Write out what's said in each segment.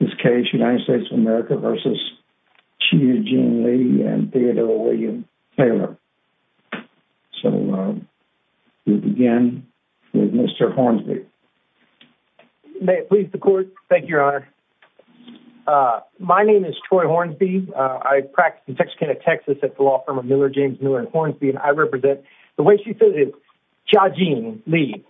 vs. Chia Jean Lee and Theodore William Taylor. So we'll begin with Mr. Hornsby. May it please the Court. Thank you, Your Honor. My name is Troy Hornsby. I practice in Texarkana, Texas at the law firm of Miller, James, Newell & Hornsby. I represent, the way she says it, Chia Jean Lee.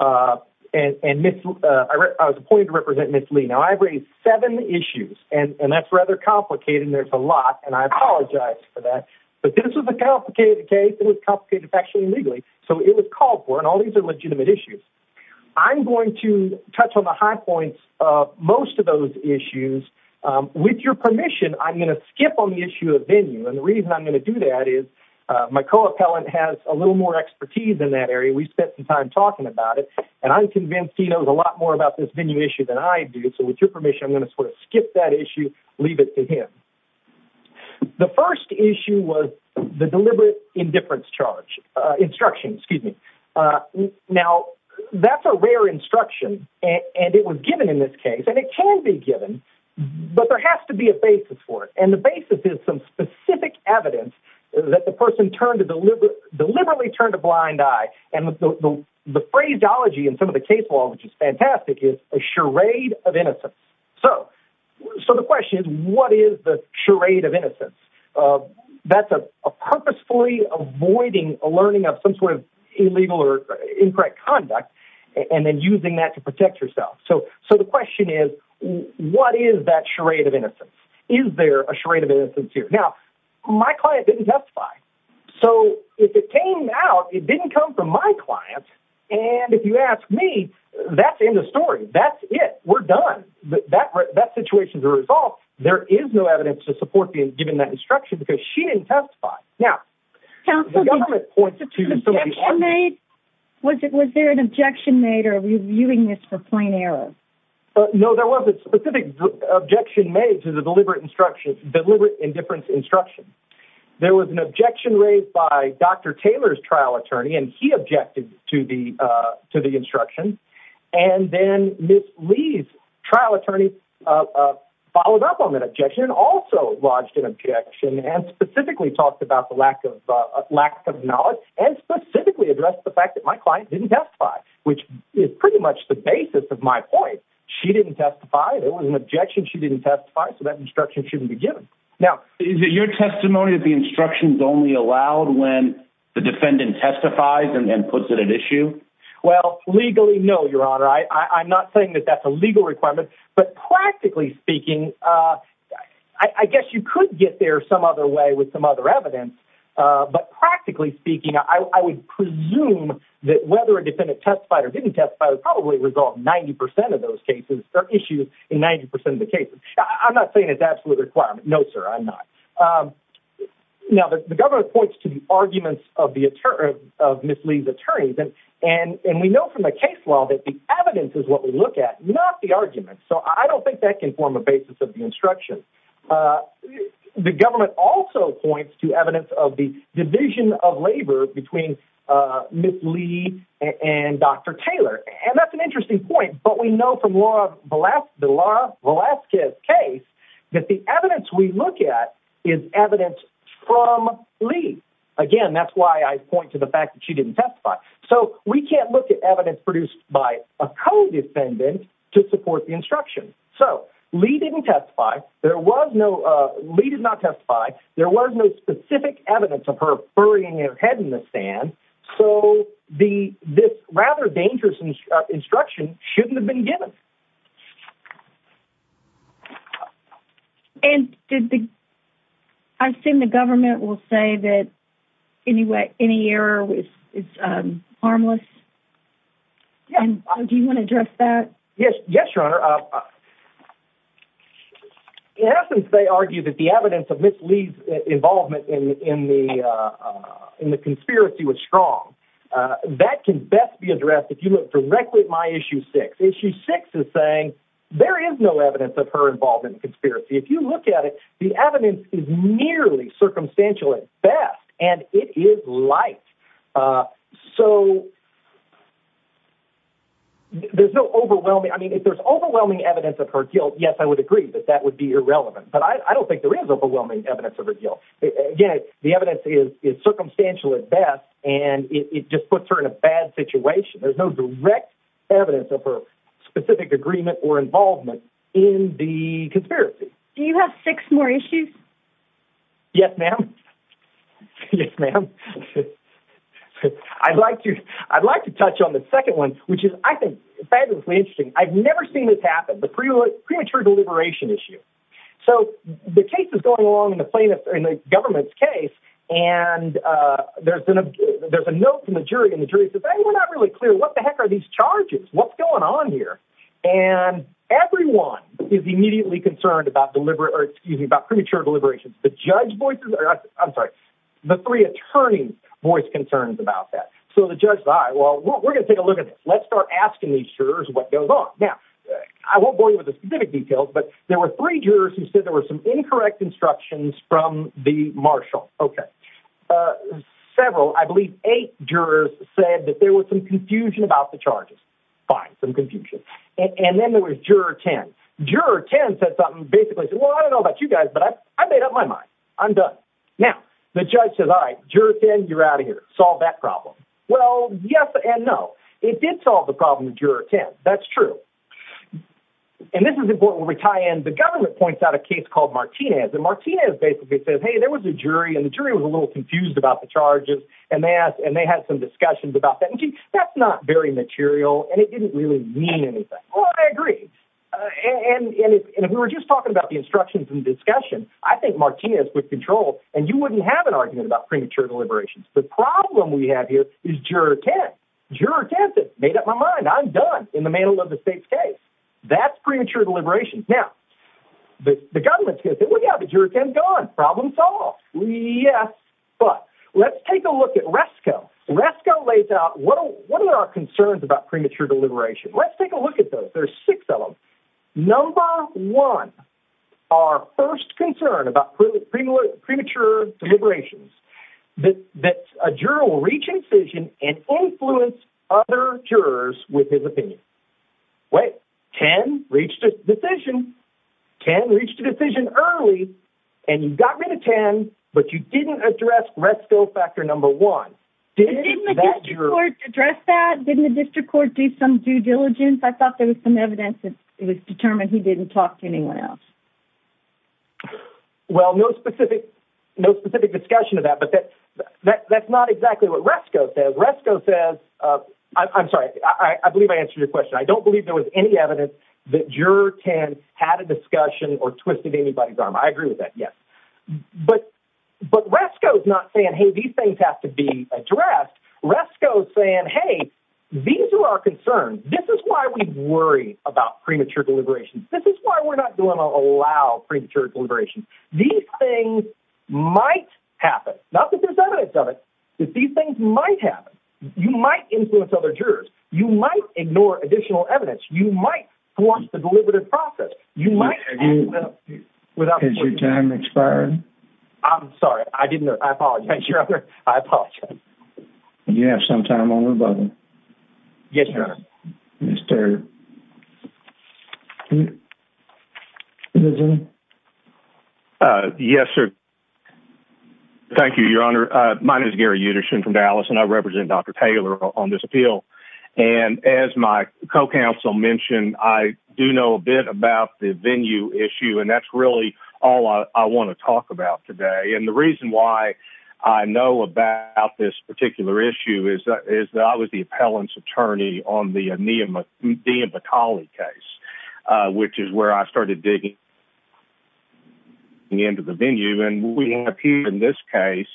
I was appointed to represent Ms. Lee. Now, I've raised seven issues, and that's rather complicated, and there's a lot, and I apologize for that. But this is a complicated case, and it's complicated factually and legally. So it was called for, and all these are legitimate issues. I'm going to touch on the high points of most of those issues. With your permission, I'm going to skip on the issue of venue. And the reason I'm going to do that is my co-appellant has a little more expertise in that area. We spent some time talking about it, and I'm convinced he knows a lot more about this venue issue than I do. So with your permission, I'm going to sort of skip that issue, leave it to him. The first issue was the deliberate indifference charge, instruction, excuse me. Now, that's a rare instruction, and it was given in this case, and it can be given, but there has to be a basis for it. And the basis is some specific evidence that the person deliberately turned a blind eye and the phraseology in some of the case law, which is fantastic, is a charade of innocence. So the question is what is the charade of innocence? That's a purposefully avoiding a learning of some sort of illegal or incorrect conduct and then using that to protect yourself. So the question is what is that charade of innocence? Is there a charade of innocence here? Now, my client didn't testify. So if it came out, it didn't come from my client, and if you ask me, that's the end of the story. That's it. We're done. That situation is resolved. There is no evidence to support being given that instruction because she didn't testify. Now, the government points to somebody's argument. Was there an objection made or are you viewing this for plain error? No, there wasn't a specific objection made to the deliberate indifference instruction. There was an objection raised by Dr. Taylor's trial attorney, and he objected to the instruction. And then Ms. Lee's trial attorney followed up on that objection and also lodged an objection and specifically talked about the lack of knowledge and specifically addressed the fact that my client didn't testify, which is pretty much the basis of my point. She didn't testify. There was an objection she didn't testify, so that instruction shouldn't be given. Now, is it your testimony that the instruction is only allowed when the defendant testifies and then puts it at issue? Well, legally, no, Your Honor. I'm not saying that that's a legal requirement, but practically speaking, I guess you could get there some other way with some other evidence, but practically speaking, I would presume that whether a defendant testified or didn't testify would probably resolve 90% of those cases or issues in 90% of the cases. I'm not saying it's an absolute requirement. No, sir, I'm not. Now, the government points to the arguments of Ms. Lee's attorneys, and we know from the case law that the evidence is what we look at, not the arguments. So I don't think that can form a basis of the instruction. The government also points to evidence of the division of labor between Ms. Lee and Dr. Taylor, and that's an interesting point, but we know from the Laura Velasquez case that the evidence we look at is evidence from Lee. Again, that's why I point to the fact that she didn't testify. So we can't look at evidence produced by a co-defendant to support the instruction. So Lee didn't testify. Lee did not testify. There was no specific evidence of her burying her head in the sand. So this rather dangerous instruction shouldn't have been given. And I've seen the government will say that any error is harmless. Do you want to address that? Yes, Your Honor. In essence, they argue that the evidence of Ms. Lee's involvement in the conspiracy was strong. That can best be addressed if you look directly at my Issue 6. Issue 6 is saying there is no evidence of her involvement in the conspiracy. If you look at it, the evidence is nearly circumstantial at best, and it is light. So if there's overwhelming evidence of her guilt, yes, I would agree that that would be irrelevant. But I don't think there is overwhelming evidence of her guilt. Again, the evidence is circumstantial at best, and it just puts her in a bad situation. There's no direct evidence of her specific agreement or involvement in the conspiracy. Do you have six more issues? Yes, ma'am. Yes, ma'am. I'd like to touch on the second one, which is, I think, fabulously interesting. I've never seen this happen, the premature deliberation issue. So the case is going along in the government's case, and there's a note from the jury. And the jury says, hey, we're not really clear. What the heck are these charges? What's going on here? And everyone is immediately concerned about premature deliberations. I'm sorry, the three attorneys voice concerns about that. So the judge, all right, well, we're going to take a look at this. Let's start asking these jurors what goes on. Now, I won't bore you with the specific details, but there were three jurors who said there were some incorrect instructions from the marshal. Okay. Several, I believe eight jurors, said that there was some confusion about the charges. Fine, some confusion. And then there was juror 10. Juror 10 said something, basically said, well, I don't know about you guys, but I made up my mind. I'm done. Now, the judge says, all right, juror 10, you're out of here. Solve that problem. Well, yes and no. It did solve the problem with juror 10. That's true. And this is important where we tie in. The government points out a case called Martinez. And Martinez basically says, hey, there was a jury, and the jury was a little confused about the charges, and they had some discussions about that. That's not very material, and it didn't really mean anything. Well, I agree. And if we were just talking about the instructions and discussion, I think Martinez would control, and you wouldn't have an argument about premature deliberations. The problem we have here is juror 10. Juror 10 said, made up my mind. I'm done, in the mantle of the state's case. That's premature deliberations. Now, the government's going to say, well, yeah, but juror 10's gone. Problem solved. Yes, but let's take a look at Resco. Resco lays out what are our concerns about premature deliberations. Let's take a look at those. There are six of them. Number one, our first concern about premature deliberations, that a juror will reach incision and influence other jurors with his opinion. Wait. 10 reached a decision. 10 reached a decision early, and you got rid of 10, but you didn't address Resco factor number one. Didn't the district court address that? Didn't the district court do some due diligence? I thought there was some evidence that it was determined he didn't talk to anyone else. Well, no specific discussion of that, but that's not exactly what Resco says. Resco says – I'm sorry. I believe I answered your question. I don't believe there was any evidence that juror 10 had a discussion or twisted anybody's arm. I agree with that, yes. But Resco's not saying, hey, these things have to be addressed. Resco's saying, hey, these are our concerns. This is why we worry about premature deliberations. This is why we're not going to allow premature deliberations. These things might happen. Not that there's evidence of it, but these things might happen. You might influence other jurors. You might ignore additional evidence. You might force the deliberative process. Has your time expired? I'm sorry. I didn't know. I apologize. I apologize. Do you have some time on the button? Yes, Your Honor. Mr. Edgerton? Yes, sir. Thank you, Your Honor. My name is Gary Edgerton from Dallas, and I represent Dr. Taylor on this appeal. And as my co-counsel mentioned, I do know a bit about the venue issue, and that's really all I want to talk about today. And the reason why I know about this particular issue is that I was the appellant's attorney on the Ian Batali case, which is where I started digging into the venue. And what we have here in this case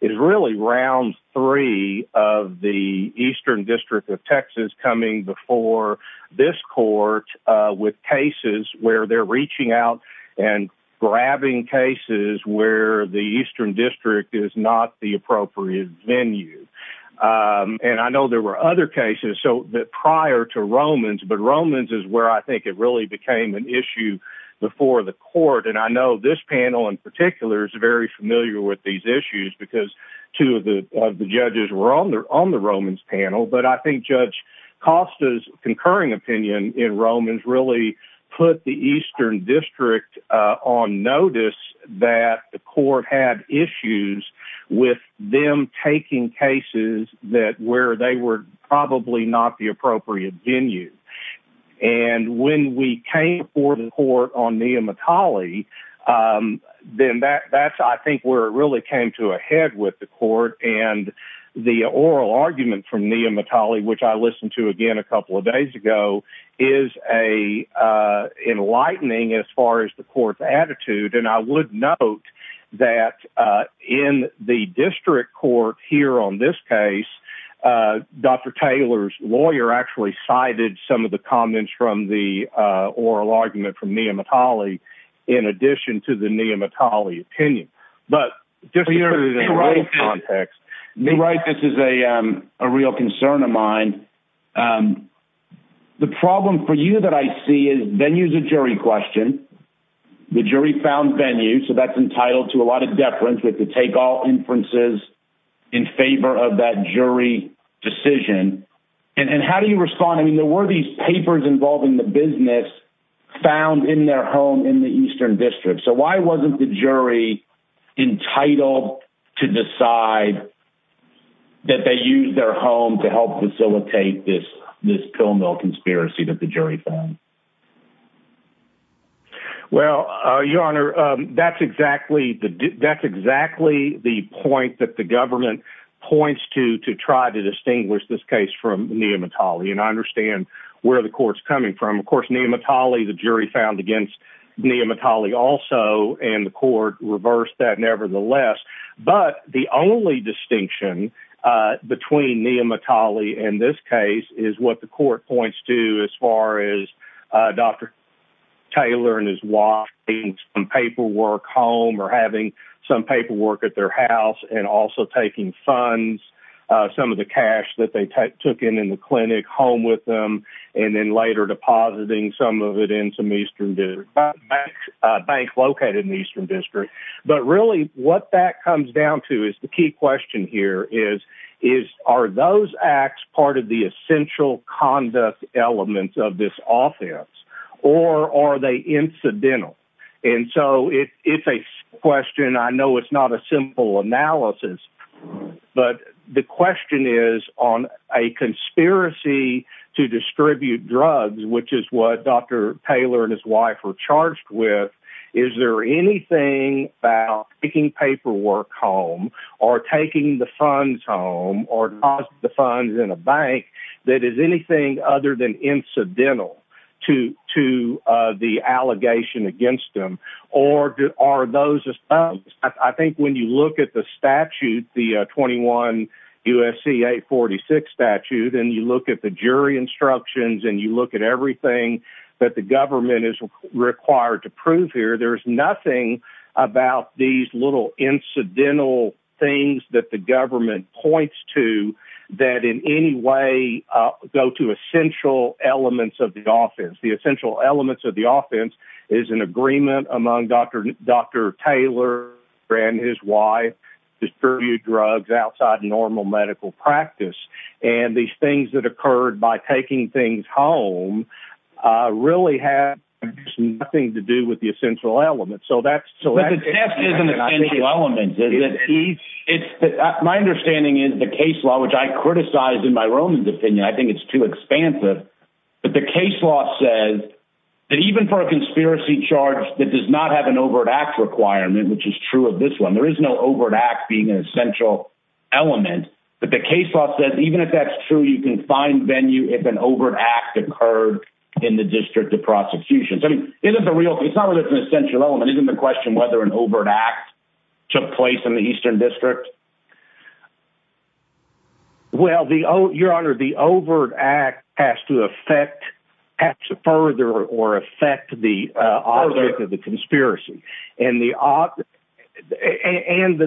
is really round three of the Eastern District of Texas coming before this court with cases where they're reaching out and grabbing cases where the Eastern District is not the appropriate venue. And I know there were other cases prior to Romans, but Romans is where I think it really became an issue before the court. And I know this panel in particular is very familiar with these issues because two of the judges were on the Romans panel, but I think Judge Costa's concurring opinion in Romans really put the Eastern District on notice that the court had issues with them taking cases where they were probably not the appropriate venue. And when we came before the court on Ian Batali, then that's, I think, where it really came to a head with the court. And the oral argument from Ian Batali, which I listened to again a couple of days ago, is enlightening as far as the court's attitude. And I would note that in the district court here on this case, Dr. Taylor's lawyer actually cited some of the comments from the oral argument from Ian Batali in addition to the Ian Batali opinion. But just for your context, you're right, this is a real concern of mine. The problem for you that I see is venue's a jury question. The jury found venue, so that's entitled to a lot of deference. We have to take all inferences in favor of that jury decision. And how do you respond? I mean, there were these papers involving the business found in their home in the Eastern District. So why wasn't the jury entitled to decide that they used their home to help facilitate this pill mill conspiracy that the jury found? Well, Your Honor, that's exactly the point that the government points to to try to distinguish this case from Ian Batali. And I understand where the court's coming from. Of course, Ian Batali, the jury found against Ian Batali also, and the court reversed that nevertheless. But the only distinction between Ian Batali and this case is what the court points to as far as Dr. Taylor and his wife getting some paperwork home or having some paperwork at their house and also taking funds, some of the cash that they took in in the clinic home with them and then later depositing some of it in some Eastern District bank located in the Eastern District. But really what that comes down to is the key question here is, are those acts part of the essential conduct elements of this offense, or are they incidental? And so it's a question. And I know it's not a simple analysis, but the question is on a conspiracy to distribute drugs, which is what Dr. Taylor and his wife were charged with, is there anything about taking paperwork home or taking the funds home or depositing the funds in a bank that is anything other than incidental to the allegation against the system, or are those just not? I think when you look at the statute, the 21 U.S.C. 846 statute, and you look at the jury instructions and you look at everything that the government is required to prove here, there's nothing about these little incidental things that the government points to that in any way go to essential elements of the offense. The essential elements of the offense is an agreement among Dr. Taylor and his wife to distribute drugs outside normal medical practice. And these things that occurred by taking things home really have nothing to do with the essential elements. But the test isn't essential elements, is it? My understanding is the case law, which I criticize in my own opinion, I think the case law says that even for a conspiracy charge that does not have an overt act requirement, which is true of this one, there is no overt act being an essential element. But the case law says even if that's true, you can find venue if an overt act occurred in the district of prosecution. It's not that it's an essential element. Isn't the question whether an overt act took place in the Eastern District? Well, Your Honor, the overt act has to affect, has to further or affect the object of the conspiracy. And the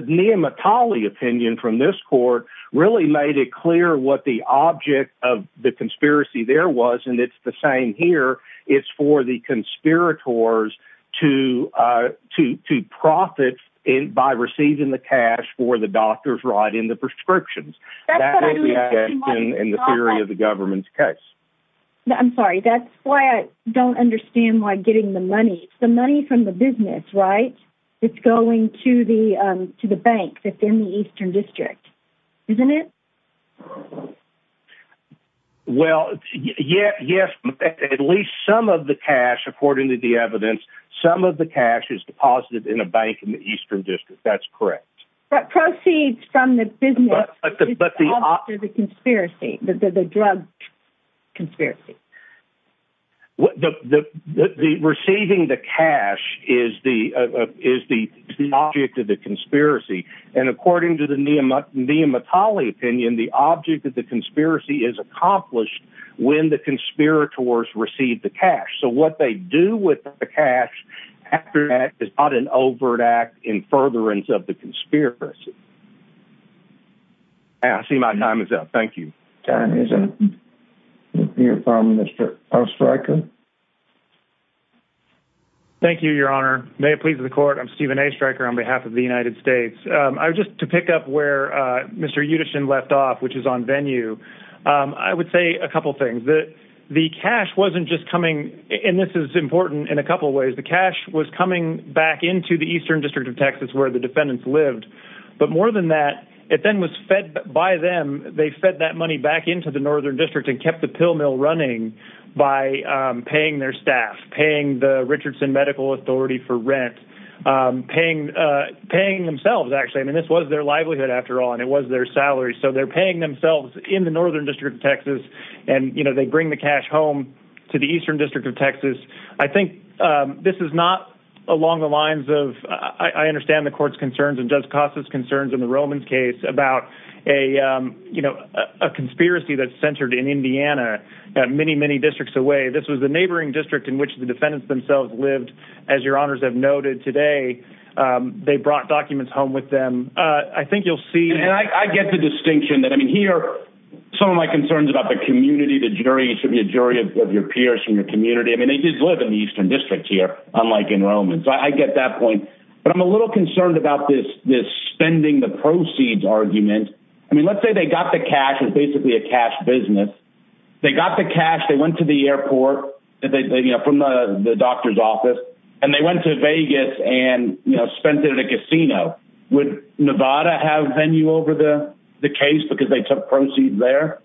Nehemiah Talley opinion from this court really made it clear what the object of the conspiracy there was. And it's the same here. It's for the conspirators to profit by receiving the cash for the doctors right in the prescriptions. That's what I'm looking at in the theory of the government's case. I'm sorry. That's why I don't understand why getting the money. It's the money from the business, right? It's going to the bank that's in the Eastern District, isn't it? Well, yes. At least some of the cash, according to the evidence, some of the cash is deposited in a bank in the Eastern District. That's correct. But proceeds from the business is the object of the drug conspiracy. Receiving the cash is the object of the conspiracy. And according to the Nehemiah Talley opinion, the object of the conspiracy is accomplished when the conspirators receive the cash. So what they do with the cash is not an overt act in furtherance of the conspiracy. I see my time is up. Thank you. Your time is up. We'll hear from Mr. Oestreicher. Thank you, Your Honor. May it please the court, I'm Stephen Oestreicher on behalf of the United States. Just to pick up where Mr. Yudishin left off, which is on venue, I would say a couple of things. The cash wasn't just coming, and this is important in a couple of ways, the cash was coming back into the Eastern District of Texas where the defendants lived. But more than that, it then was fed by them. They fed that money back into the Northern District and kept the pill mill running by paying their staff, paying the Richardson Medical Authority for it. This was their livelihood, after all, and it was their salary. So they're paying themselves in the Northern District of Texas, and they bring the cash home to the Eastern District of Texas. I think this is not along the lines of, I understand the court's concerns and Judge Costa's concerns in the Roman's case about a conspiracy that's centered in Indiana, many, many districts away. This was the neighboring district in which the defendants themselves lived. As your honors have noted today, they brought documents home with them. I think you'll see... And I get the distinction. I mean, here, some of my concerns about the community, the jury should be a jury of your peers from your community. I mean, they did live in the Eastern District here, unlike in Roman's. I get that point. But I'm a little concerned about this spending the proceeds argument. I mean, let's say they got the cash. It was basically a cash business. They got the cash. They went to the airport from the doctor's office, and they went to Vegas and spent it at a casino. Would Nevada have venue over the case because they took proceeds there?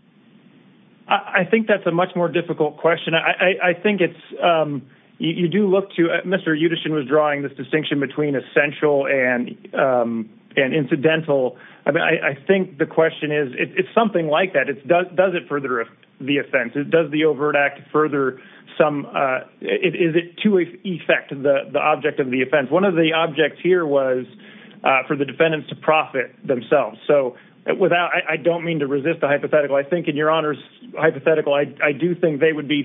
I think that's a much more difficult question. I think it's... You do look to... Mr. Yudishin was drawing this distinction between essential and incidental. I think the question is, it's something like that. Does it further the offense? Does the overt act further some... Is it to effect the object of the offense? One of the objects here was for the defendants to profit themselves. So I don't mean to resist the hypothetical. I think, in your Honor's hypothetical, I do think they would be...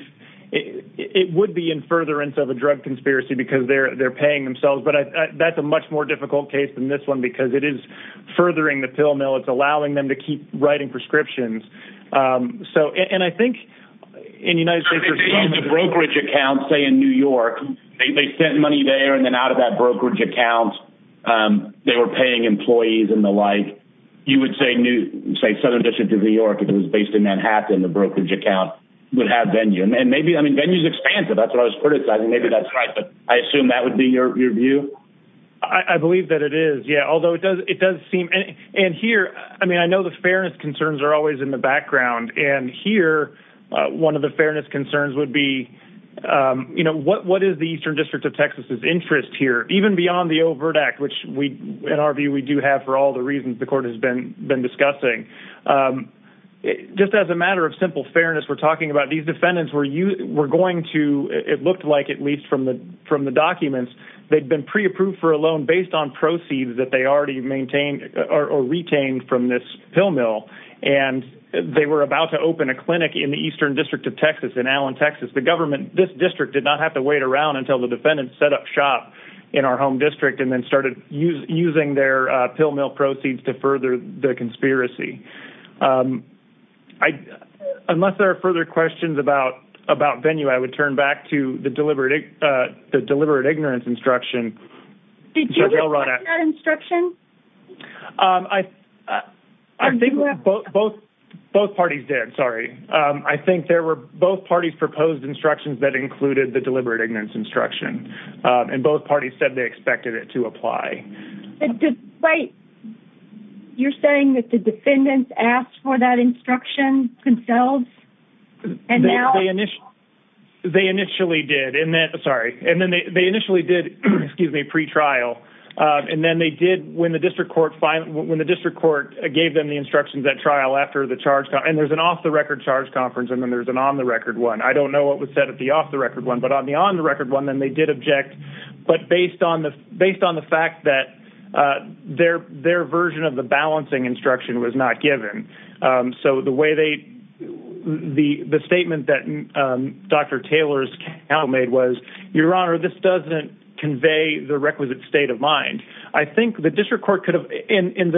It would be in furtherance of a drug conspiracy because they're paying themselves, but that's a much more difficult case than this one because it is furthering the pill mill. It's allowing them to keep writing prescriptions. And I think in the United States... The brokerage account, say, in New York, they sent money there, and then out of that brokerage account, they were paying employees and the like. You would say Southern District of New York, if it was based in Manhattan, the brokerage account would have venue. And maybe, I mean, venue's expansive. That's what I was criticizing. Maybe that's right, but I assume that would be your view? I believe that it is, yeah, although it does seem... And here, I mean, I know the fairness concerns are always in the background. And here, one of the fairness concerns would be, you know, what is the Eastern District of Texas' interest here? Even beyond the Overt Act, which, in our view, we do have for all the reasons the Court has been discussing. Just as a matter of simple fairness, we're talking about these defendants were going to, it looked like at least from the documents, they'd been pre-approved for a loan based on proceeds that they already maintained or retained from this pill mill. And they were about to open a clinic in the Eastern District of Texas, in Allen, Texas. The government, this district, did not have to wait around until the defendants set up shop in our home district and then started using their pill mill proceeds to further the conspiracy. Unless there are further questions about venue, I would turn back to the deliberate ignorance instruction. Did you reflect that instruction? I think both parties did. Sorry. I think both parties proposed instructions that included the deliberate ignorance instruction. And both parties said they expected it to apply. Wait. You're saying that the defendants asked for that instruction themselves? They initially did. Sorry. And then they initially did, excuse me, pre-trial. And then they did, when the district court gave them the instructions at trial after the charge, and there's an off-the-record charge conference and then there's an on-the-record one. I don't know what was said at the off-the-record one, but on the on-the-record one, then they did object. But based on the fact that their version of the balancing instruction was not given. So the statement that Dr. Taylor's counsel made was, Your Honor, this doesn't convey the requisite state of mind. I think the district court could have, and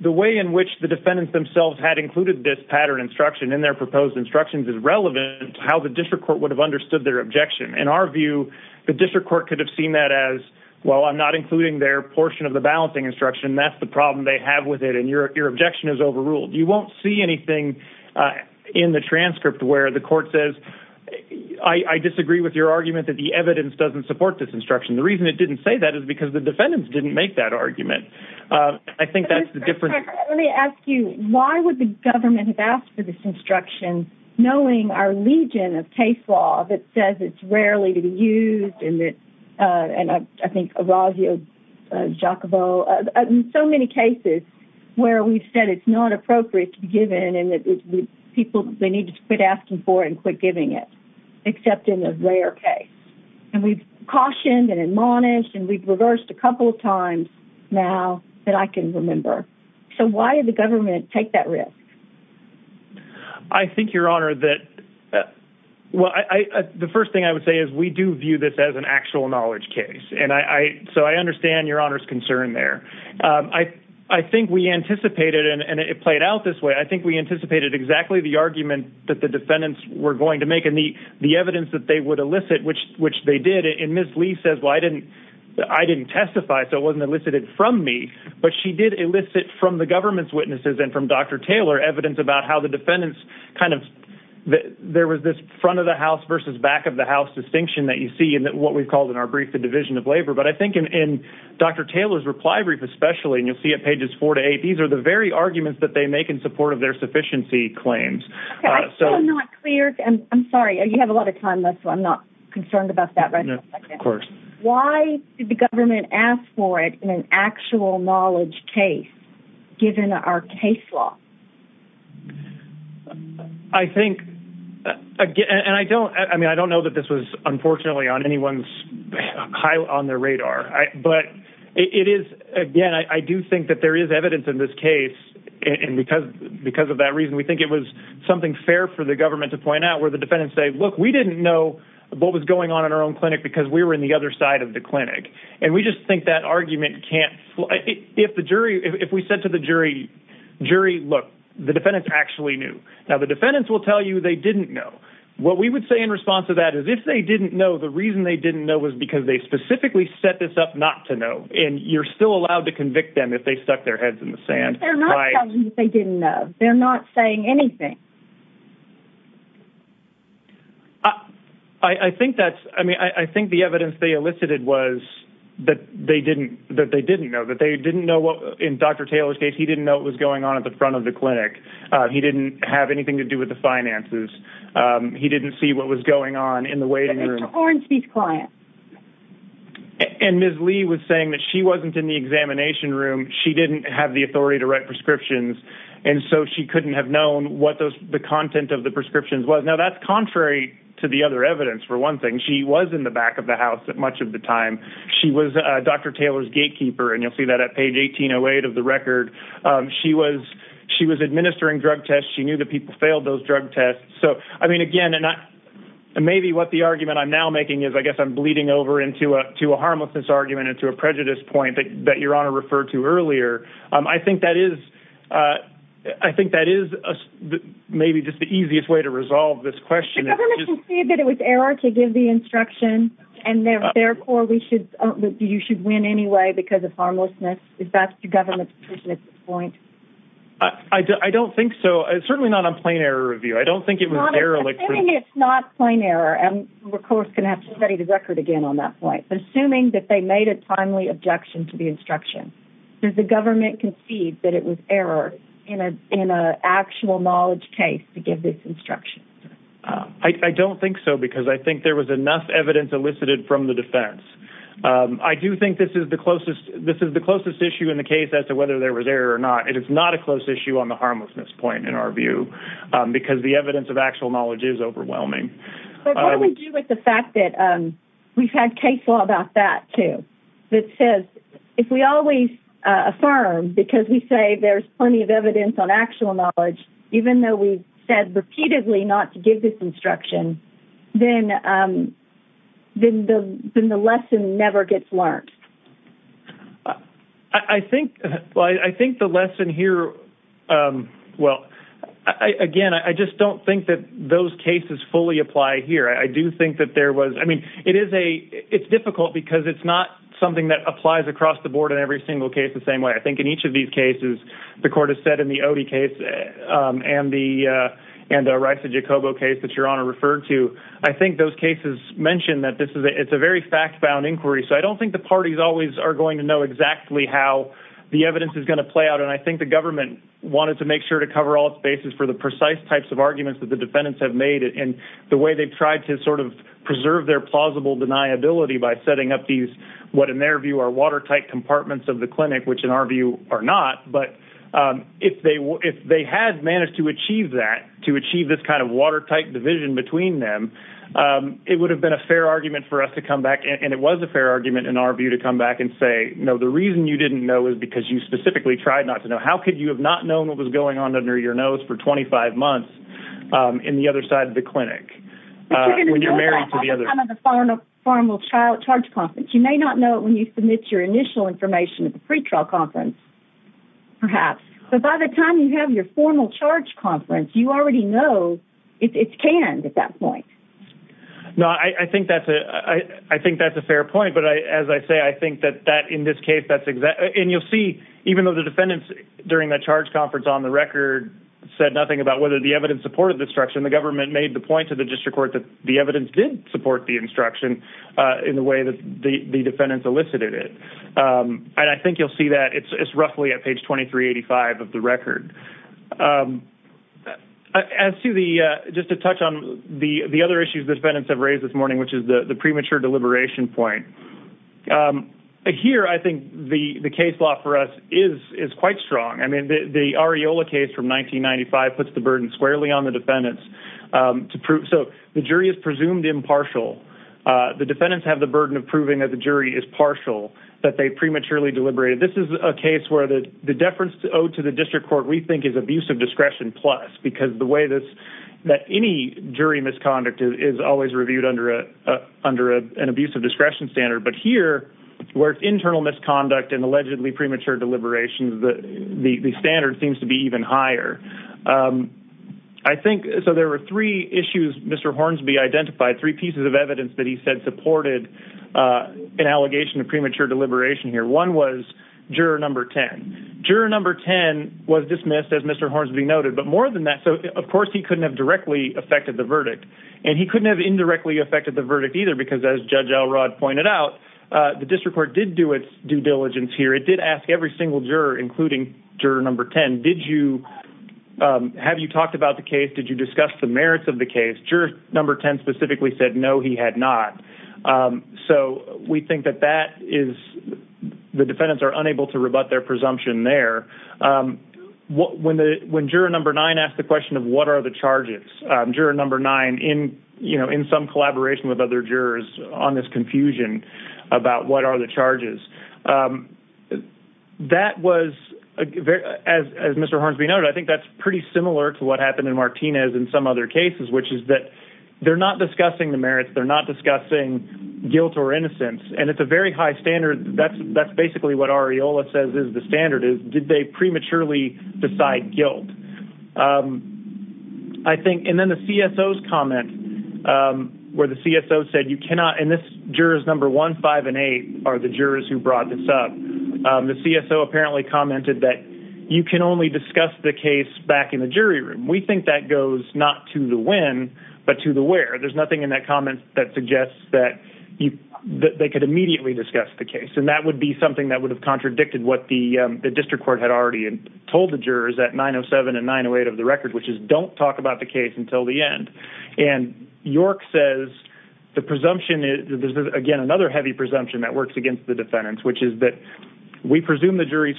the way in which the defendants themselves had included this pattern instruction in their proposed instructions is relevant to how the district court would have understood their objection. In our view, the district court could have seen that as, well, I'm not including their portion of the balancing instruction, and that's the problem they have with it, and your objection is overruled. You won't see anything in the transcript where the court says, I disagree with your argument that the evidence doesn't support this instruction. The reason it didn't say that is because the defendants didn't make that argument. Let me ask you, why would the government have asked for this instruction, knowing our legion of case law that says it's rarely to be used, and I think Araujo Jacobo, in so many cases where we've said it's not appropriate to be given, and people, they need to quit asking for it and quit giving it, except in a rare case. And we've cautioned and admonished, and we've reversed a couple of times now that I can remember. So why did the government take that risk? I think, Your Honor, that, well, the first thing I would say is we do view this as an actual knowledge case, and so I understand Your Honor's concern there. I think we anticipated, and it played out this way, I think we anticipated exactly the argument that the defendants were going to make, and the evidence that they would elicit, which they did, and Ms. Lee says, well, I didn't testify, so it wasn't elicited from me, but she did elicit from the government's witnesses and from Dr. Taylor evidence about how the defendants kind of, there was this front-of-the-house versus back-of-the-house distinction that you see in what we've called in our brief the division of labor. But I think in Dr. Taylor's reply brief especially, and you'll see it pages four to eight, these are the very arguments that they make in support of their sufficiency claims. Okay, I'm still not clear, and I'm sorry, you have a lot of time left, so I'm not concerned about that right now. Of course. Why did the government ask for it in an actual knowledge case, given our case law? I think, and I don't, I mean, I don't know that this was unfortunately on anyone's, high on their radar, but it is, again, I do think that there is evidence in this case, and because of that reason, we think it was something fair for the government to point out where the defendants say, look, we didn't know what was going on in our own clinic because we were in the other side of the clinic. And we just think that argument can't, if the jury, if we said to the jury, jury, look, the defendants actually knew. Now the defendants will tell you, they didn't know. What we would say in response to that is if they didn't know, the reason they didn't know was because they specifically set this up not to know. And you're still allowed to convict them if they stuck their heads in the sand. They didn't know. They're not saying anything. I think that's, I mean, I think the evidence they elicited was that they didn't, that they didn't know that they didn't know what, in Dr. Taylor's case, he didn't know what was going on at the front of the clinic. He didn't have anything to do with the finances. He didn't see what was going on in the waiting room. And Ms. Lee was saying that she wasn't in the examination room. She didn't have the authority to write prescriptions. And so she couldn't have known what those, the content of the prescriptions was. Now that's contrary to the other evidence. For one thing, she was in the back of the house at much of the time. She was Dr. Taylor's gatekeeper. And you'll see that at page 1808 of the record. She was, she was administering drug tests. She knew that people failed those drug tests. So, I mean, again, and I, and maybe what the argument I'm now making is I guess I'm bleeding over into a, to a harmlessness argument and to a prejudice point that, that your honor referred to earlier. I think that is, I think that is maybe just the easiest way to resolve this question. It was error to give the instruction and therefore we should, you should win anyway because of harmlessness. Is that the government's point? I don't think so. It's certainly not a plain error review. I don't think it was. It's not plain error. And we're of course going to have to study the record again on that point, but assuming that they made a timely objection to the instruction, does the government concede that it was error in a, an actual knowledge case to give this instruction? I don't think so because I think there was enough evidence elicited from the defense. I do think this is the closest, this is the closest issue in the case as to whether there was error or not. It is not a close issue on the harmlessness point in our view because the evidence of actual knowledge is overwhelming. But what do we do with the fact that we've had case law about that too, that says if we always affirm, because we say there's plenty of evidence on actual knowledge, even though we said repeatedly not to give this instruction, then the lesson never gets learned. I think, well, I think the lesson here, well, again, I just don't think that those cases fully apply here. I do think that there was, I mean, it is a, it's difficult because it's not something that applies across the board in every single case the same way. I think in each of these cases, the court has said in the Odie case and the, and the rights of Jacobo case that your honor referred to, I think those cases mentioned that this is a, it's a very fact-bound inquiry. So I don't think the parties always are going to know exactly how the evidence is going to play out. And I think the government wanted to make sure to cover all its bases for the precise types of arguments that the defendants have made and the way they've tried to sort of preserve their plausible deniability by setting up these, what in their view are watertight compartments of the clinic, which in our view are not. But if they, if they had managed to achieve that, to achieve this kind of watertight division between them, it would have been a fair argument for us to come back. And it was a fair argument in our view to come back and say, no, the reason you didn't know is because you specifically tried not to know. How could you have not known what was going on under your nose for 25 months in the other side of the clinic? When you're married to the other. You may not know it when you submit your initial information at the trial conference, perhaps. But by the time you have your formal charge conference, you already know it's canned at that point. No, I think that's a, I think that's a fair point, but I, as I say, I think that that in this case, that's exactly. And you'll see, even though the defendants during that charge conference on the record said nothing about whether the evidence supported the structure and the government made the point to the district court that the evidence did support the instruction in the way that the defendants elicited it. And I think you'll see that it's roughly at page 2385 of the record. As to the, just to touch on the, the other issues defendants have raised this morning, which is the premature deliberation point here. I think the case law for us is, is quite strong. I mean, the, the areola case from 1995 puts the burden squarely on the defendants to prove. So the jury is presumed impartial. The defendants have the burden of proving that the jury is partial, that they prematurely deliberated. This is a case where the deference owed to the district court we think is abusive discretion plus, because the way this that any jury misconduct is always reviewed under a, under a, an abusive discretion standard, but here where it's internal misconduct and allegedly premature deliberations, the, the, the standard seems to be even higher. I think, so there were three issues, Mr. Hornsby identified three pieces of evidence that he said supported an allegation of premature deliberation here. One was juror number 10, juror number 10 was dismissed as Mr. Hornsby noted, but more than that. So of course he couldn't have directly affected the verdict and he couldn't have indirectly affected the verdict either because as judge Elrod pointed out the district court did do its due diligence here. It did ask every single juror, including juror number 10. Did you, have you talked about the case? Did you discuss the merits of the case? Juror number 10 specifically said, no, he had not. So we think that that is, the defendants are unable to rebut their presumption there. When the, when juror number nine asked the question of what are the charges, juror number nine in, you know, in some collaboration with other jurors on this confusion about what are the charges, that was as, as Mr. Hornsby noted, I think that's pretty similar to what happened in Martinez in some other cases, which is that they're not discussing the merits. They're not discussing guilt or innocence. And it's a very high standard. That's, that's basically what Arreola says is the standard is, did they prematurely decide guilt? I think. And then the CSO's comment where the CSO said you cannot, and this jurors number one, five and eight are the jurors who brought this up. The CSO apparently commented that you can only discuss the case back in the case, not to the when, but to the where. There's nothing in that comment that suggests that you, that they could immediately discuss the case. And that would be something that would have contradicted what the district court had already told the jurors at nine Oh seven and nine Oh eight of the record, which is don't talk about the case until the end. And York says the presumption is again, another heavy presumption that works against the defendants, which is that we presume the jury's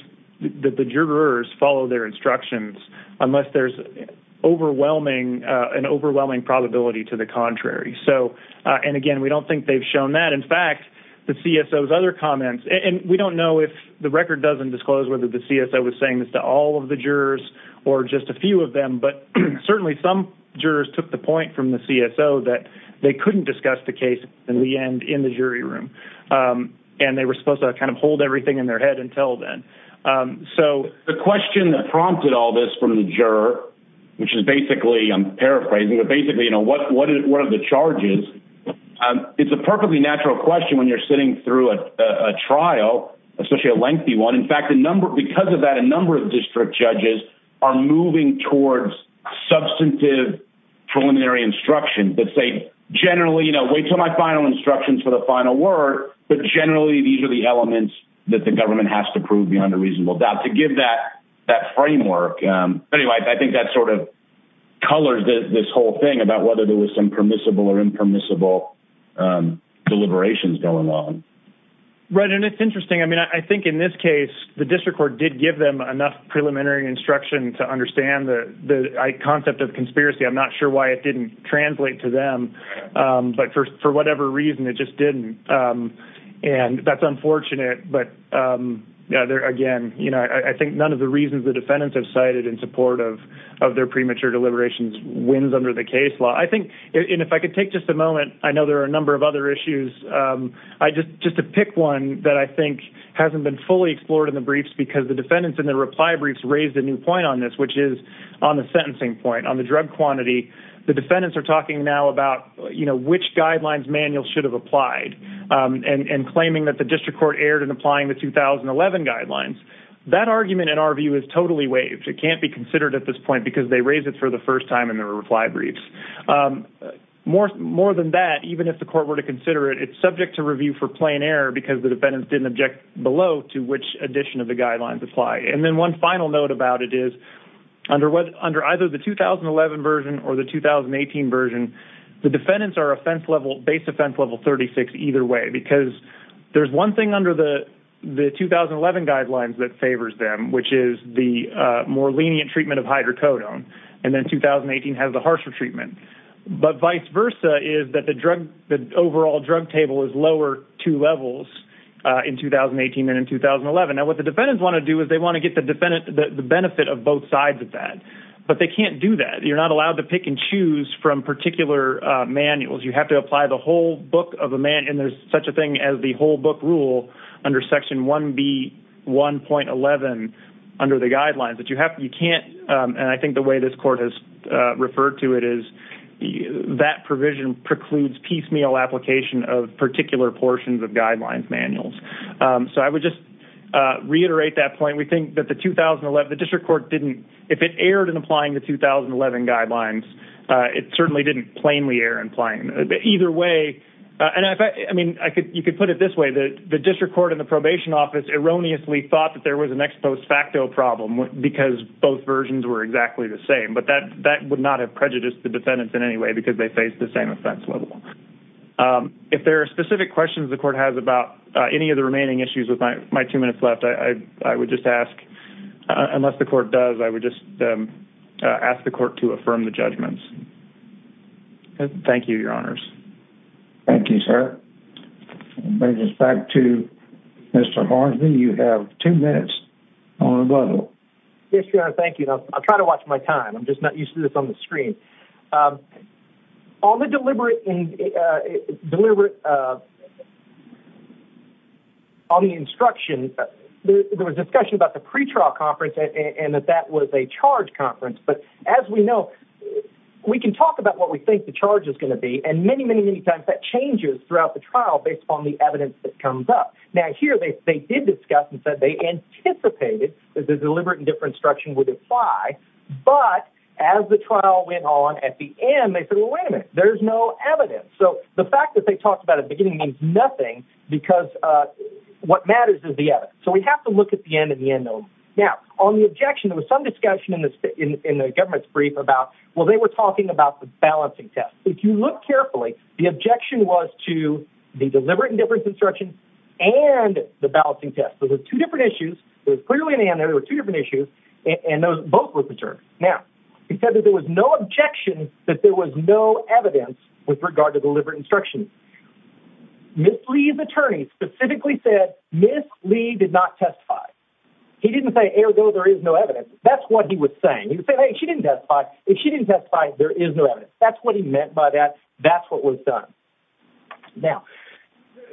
that the jurors follow their presumptions. And that's an overwhelming probability to the contrary. So, and again, we don't think they've shown that. In fact, the CSO's other comments, and we don't know if the record doesn't disclose whether the CSO was saying this to all of the jurors or just a few of them, but certainly some jurors took the point from the CSO that they couldn't discuss the case in the end in the jury room. And they were supposed to kind of hold everything in their head until then. So the question that prompted all this from the juror, which is basically I'm paraphrasing, but basically, you know, what, what, what are the charges? It's a perfectly natural question when you're sitting through a trial, especially a lengthy one. In fact, the number, because of that, a number of district judges are moving towards substantive preliminary instruction that say generally, you know, wait till my final instructions for the final word. But generally these are the elements that the government has to prove beyond a reasonable doubt to give that, that framework. Anyway, I think that sort of colors this whole thing about whether there was some permissible or impermissible deliberations going on. Right. And it's interesting. I mean, I think in this case, the district court did give them enough preliminary instruction to understand the concept of conspiracy. I'm not sure why it didn't translate to them, but for whatever reason, it just didn't. And that's unfortunate, but again, you know, I think none of the reasons the defendants have cited in support of, of their premature deliberations wins under the case law. I think, and if I could take just a moment, I know there are a number of other issues. I just, just to pick one that I think hasn't been fully explored in the briefs because the defendants in the reply briefs raised a new point on this, which is on the sentencing point on the drug quantity. The defendants are talking now about, you know, which guidelines manual should have applied and claiming that the district court erred in applying the 2011 guidelines. That argument in our view is totally waived. It can't be considered at this point because they raised it for the first time in their reply briefs. More, more than that, even if the court were to consider it, it's subject to review for plain error because the defendants didn't object below to which addition of the guidelines apply. And then one final note about it is under what, under either the 2011 version or the 2018 version, the defendants are offense level base offense level 36 either way, because there's one thing under the, the 2011 guidelines that favors them, which is the more lenient treatment of hydrocodone. And then 2018 has the harsher treatment, but vice versa is that the drug, the overall drug table is lower two levels in 2018 and in 2011. Now what the defendants want to do is they want to get the defendant, the benefit of both sides of that, but they can't do that. You're not allowed to pick and choose from particular manuals. You have to apply the whole book of a man. And there's such a thing as the whole book rule under section one B one point 11 under the guidelines that you have, you can't. And I think the way this court has referred to it is that provision precludes piecemeal application of particular portions of guidelines, manuals. So I would just reiterate that point. We think that the 2011, the district court didn't, if it erred in applying the 2011 guidelines it certainly didn't plainly err in applying either way. And if I, I mean, I could, you could put it this way that the district court in the probation office erroneously thought that there was an ex post facto problem because both versions were exactly the same, but that, that would not have prejudiced the defendants in any way because they faced the same offense level. Um, if there are specific questions the court has about any of the remaining issues with my, my two minutes left, I, I would just ask, uh, unless the court does, I would just, um, uh, ask the court to affirm the judgments. Thank you, your honors. Thank you, sir. Back to Mr. Hornsby. You have two minutes. Yes, your honor. Thank you. I'll try to watch my time. I'm just not used to this on the screen. Um, all the deliberate, uh, deliberate, uh, on the instruction, there was discussion about the pretrial conference and that that was a charge conference. But as we know, we can talk about what we think the charge is going to be. And many, many, many times that changes throughout the trial based on the evidence that comes up. Now here, they did discuss and said they anticipated that the deliberate and different instruction would apply. But as the trial went on at the end, they said, well, wait a minute, there's no evidence. So the fact that they talked about at the beginning means nothing because, uh, what matters is the evidence. So we have to look at the end of the end zone. Now on the objection, there was some discussion in the state, in, in the government's brief about, well, they were talking about the balancing test. If you look carefully, the objection was to the deliberate and different construction and the balancing test. So there's two different issues. There's clearly an, and there were two different issues. And those both were preserved. Now he said that there was no objection, that there was no evidence with regard to deliberate instruction. Ms. Lee's attorney specifically said Ms. Lee did not testify. He didn't say air though. There is no evidence. That's what he was saying. He said, Hey, she didn't testify. If she didn't testify, there is no evidence. That's what he meant by that. That's what was done. Now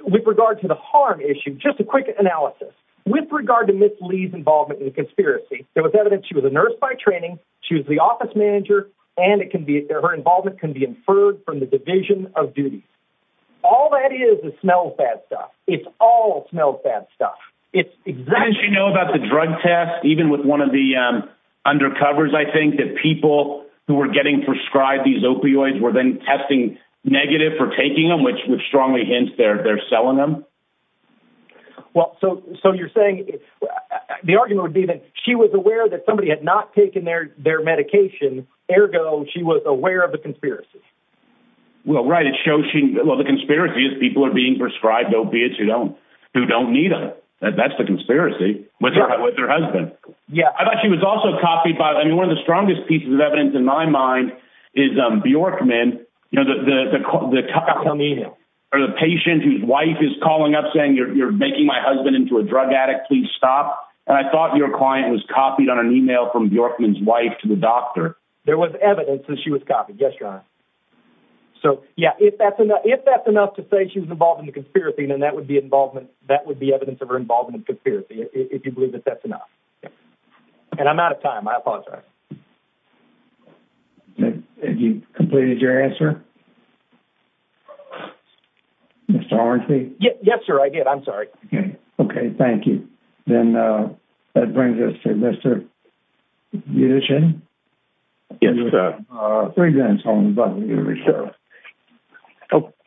with regard to the harm issue, just a quick analysis. With regard to Ms. Lee's involvement in the conspiracy, there was evidence she was a nurse by training. She was the office manager and it can be there. Her involvement can be inferred from the division of duties. All that is is smells bad stuff. It's all smells bad stuff. It's exactly, you know, about the drug test, even with one of the, um, undercovers, I think that people who were getting prescribed, these opioids were then testing negative for taking them, which would strongly hint they're, they're selling them. Well, so, so you're saying the argument would be that she was aware that somebody had not taken their, their medication. Ergo, she was aware of the conspiracy. Well, right. It shows she, well, the conspiracy is people are being prescribed opiates who don't, who don't need them. That's the conspiracy with her husband. Yeah. I thought she was also copied by, I mean, one of the strongest pieces of evidence in my mind is Bjorkman. You know, the, the, the, the, or the patient whose wife is calling up saying you're, you're making my husband into a drug addict, please stop. And I thought your client was copied on an email from Bjorkman's wife to the doctor. There was evidence that she was copied. Yes, Your Honor. So yeah, if that's enough, if that's enough to say she was involved in the conspiracy, then that would be involvement. That would be evidence of her involvement in conspiracy. If you believe that that's enough. And I'm out of time. I apologize. Have you completed your answer? Yes, sir. I did. I'm sorry. Okay. Thank you. Then that brings us to Mr. Yes, sir.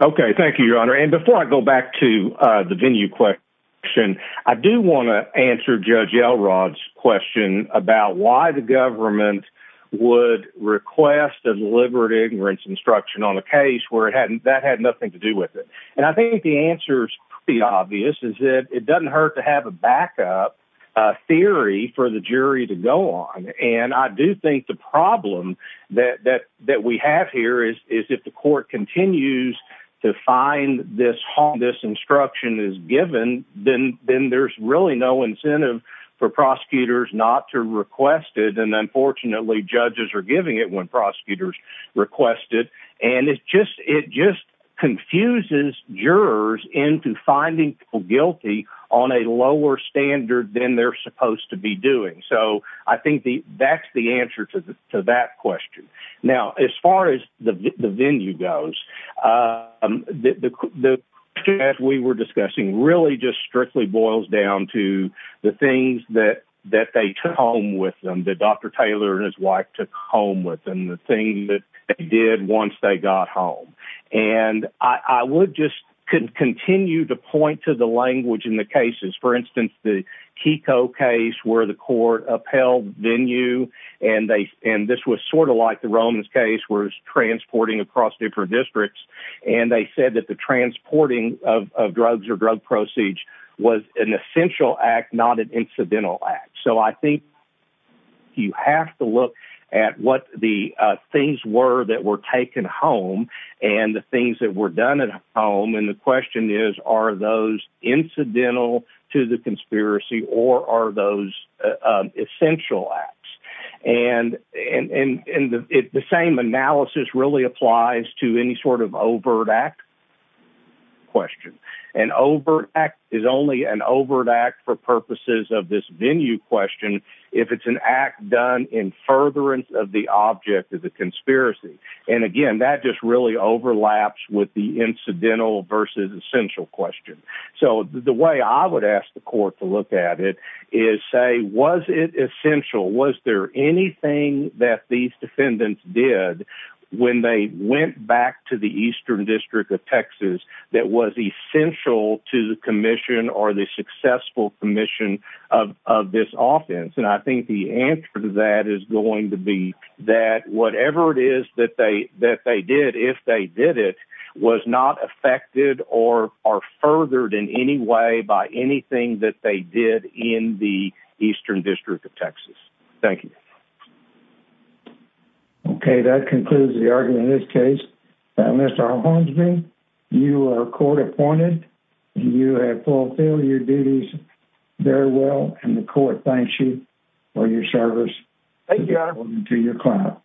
Okay. Thank you, Your Honor. Before we get into the venue question, I do want to answer judge Elrod's question about why the government would request a deliberate ignorance instruction on a case where it hadn't, that had nothing to do with it. And I think the answer is pretty obvious is that it doesn't hurt to have a backup theory for the jury to go on. And I do think the problem that, that, that we have here is, is if the court continues to find this harm, this instruction is given, then there's really no incentive for prosecutors not to request it. And unfortunately judges are giving it when prosecutors request it. And it's just, it just confuses jurors into finding people guilty on a lower standard than they're supposed to be doing. So I think that's the answer to that question. Now, as far as the venue goes, um, the, the as we were discussing really just strictly boils down to the things that, that they took home with them, that Dr. Taylor and his wife took home with them, the thing that they did once they got home. And I would just continue to point to the language in the cases. the Keiko case where the court upheld venue and they, and this was sort of like the Romans case was transporting across different districts. And they said that the transporting of drugs or drug proceeds was an essential act, not an incidental act. So I think you have to look at what the, uh, things were that were taken home and the things that were done at home. And the question is, are those incidental to the conspiracy or are those, uh, and, and, and it, the same analysis really applies to any sort of overt act question. And overt act is only an overt act for purposes of this venue question. If it's an act done in furtherance of the object of the conspiracy. And again, that just really overlaps with the incidental versus essential question. So the way I would ask the court to look at it is say, was it essential? Was there anything that these defendants did when they went back to the Eastern district of Texas that was essential to the commission or the successful commission of, of this offense? And I think the answer to that is going to be that whatever it is that they, that they did, if they did it was not affected or are furthered in any way by anything that they did in the Eastern district of Texas. Thank you. Okay. That concludes the argument in this case. Mr. Hornsby, you are court appointed. You have fulfilled your duties very well. And the court thanks you for your service. Thank you. To your client.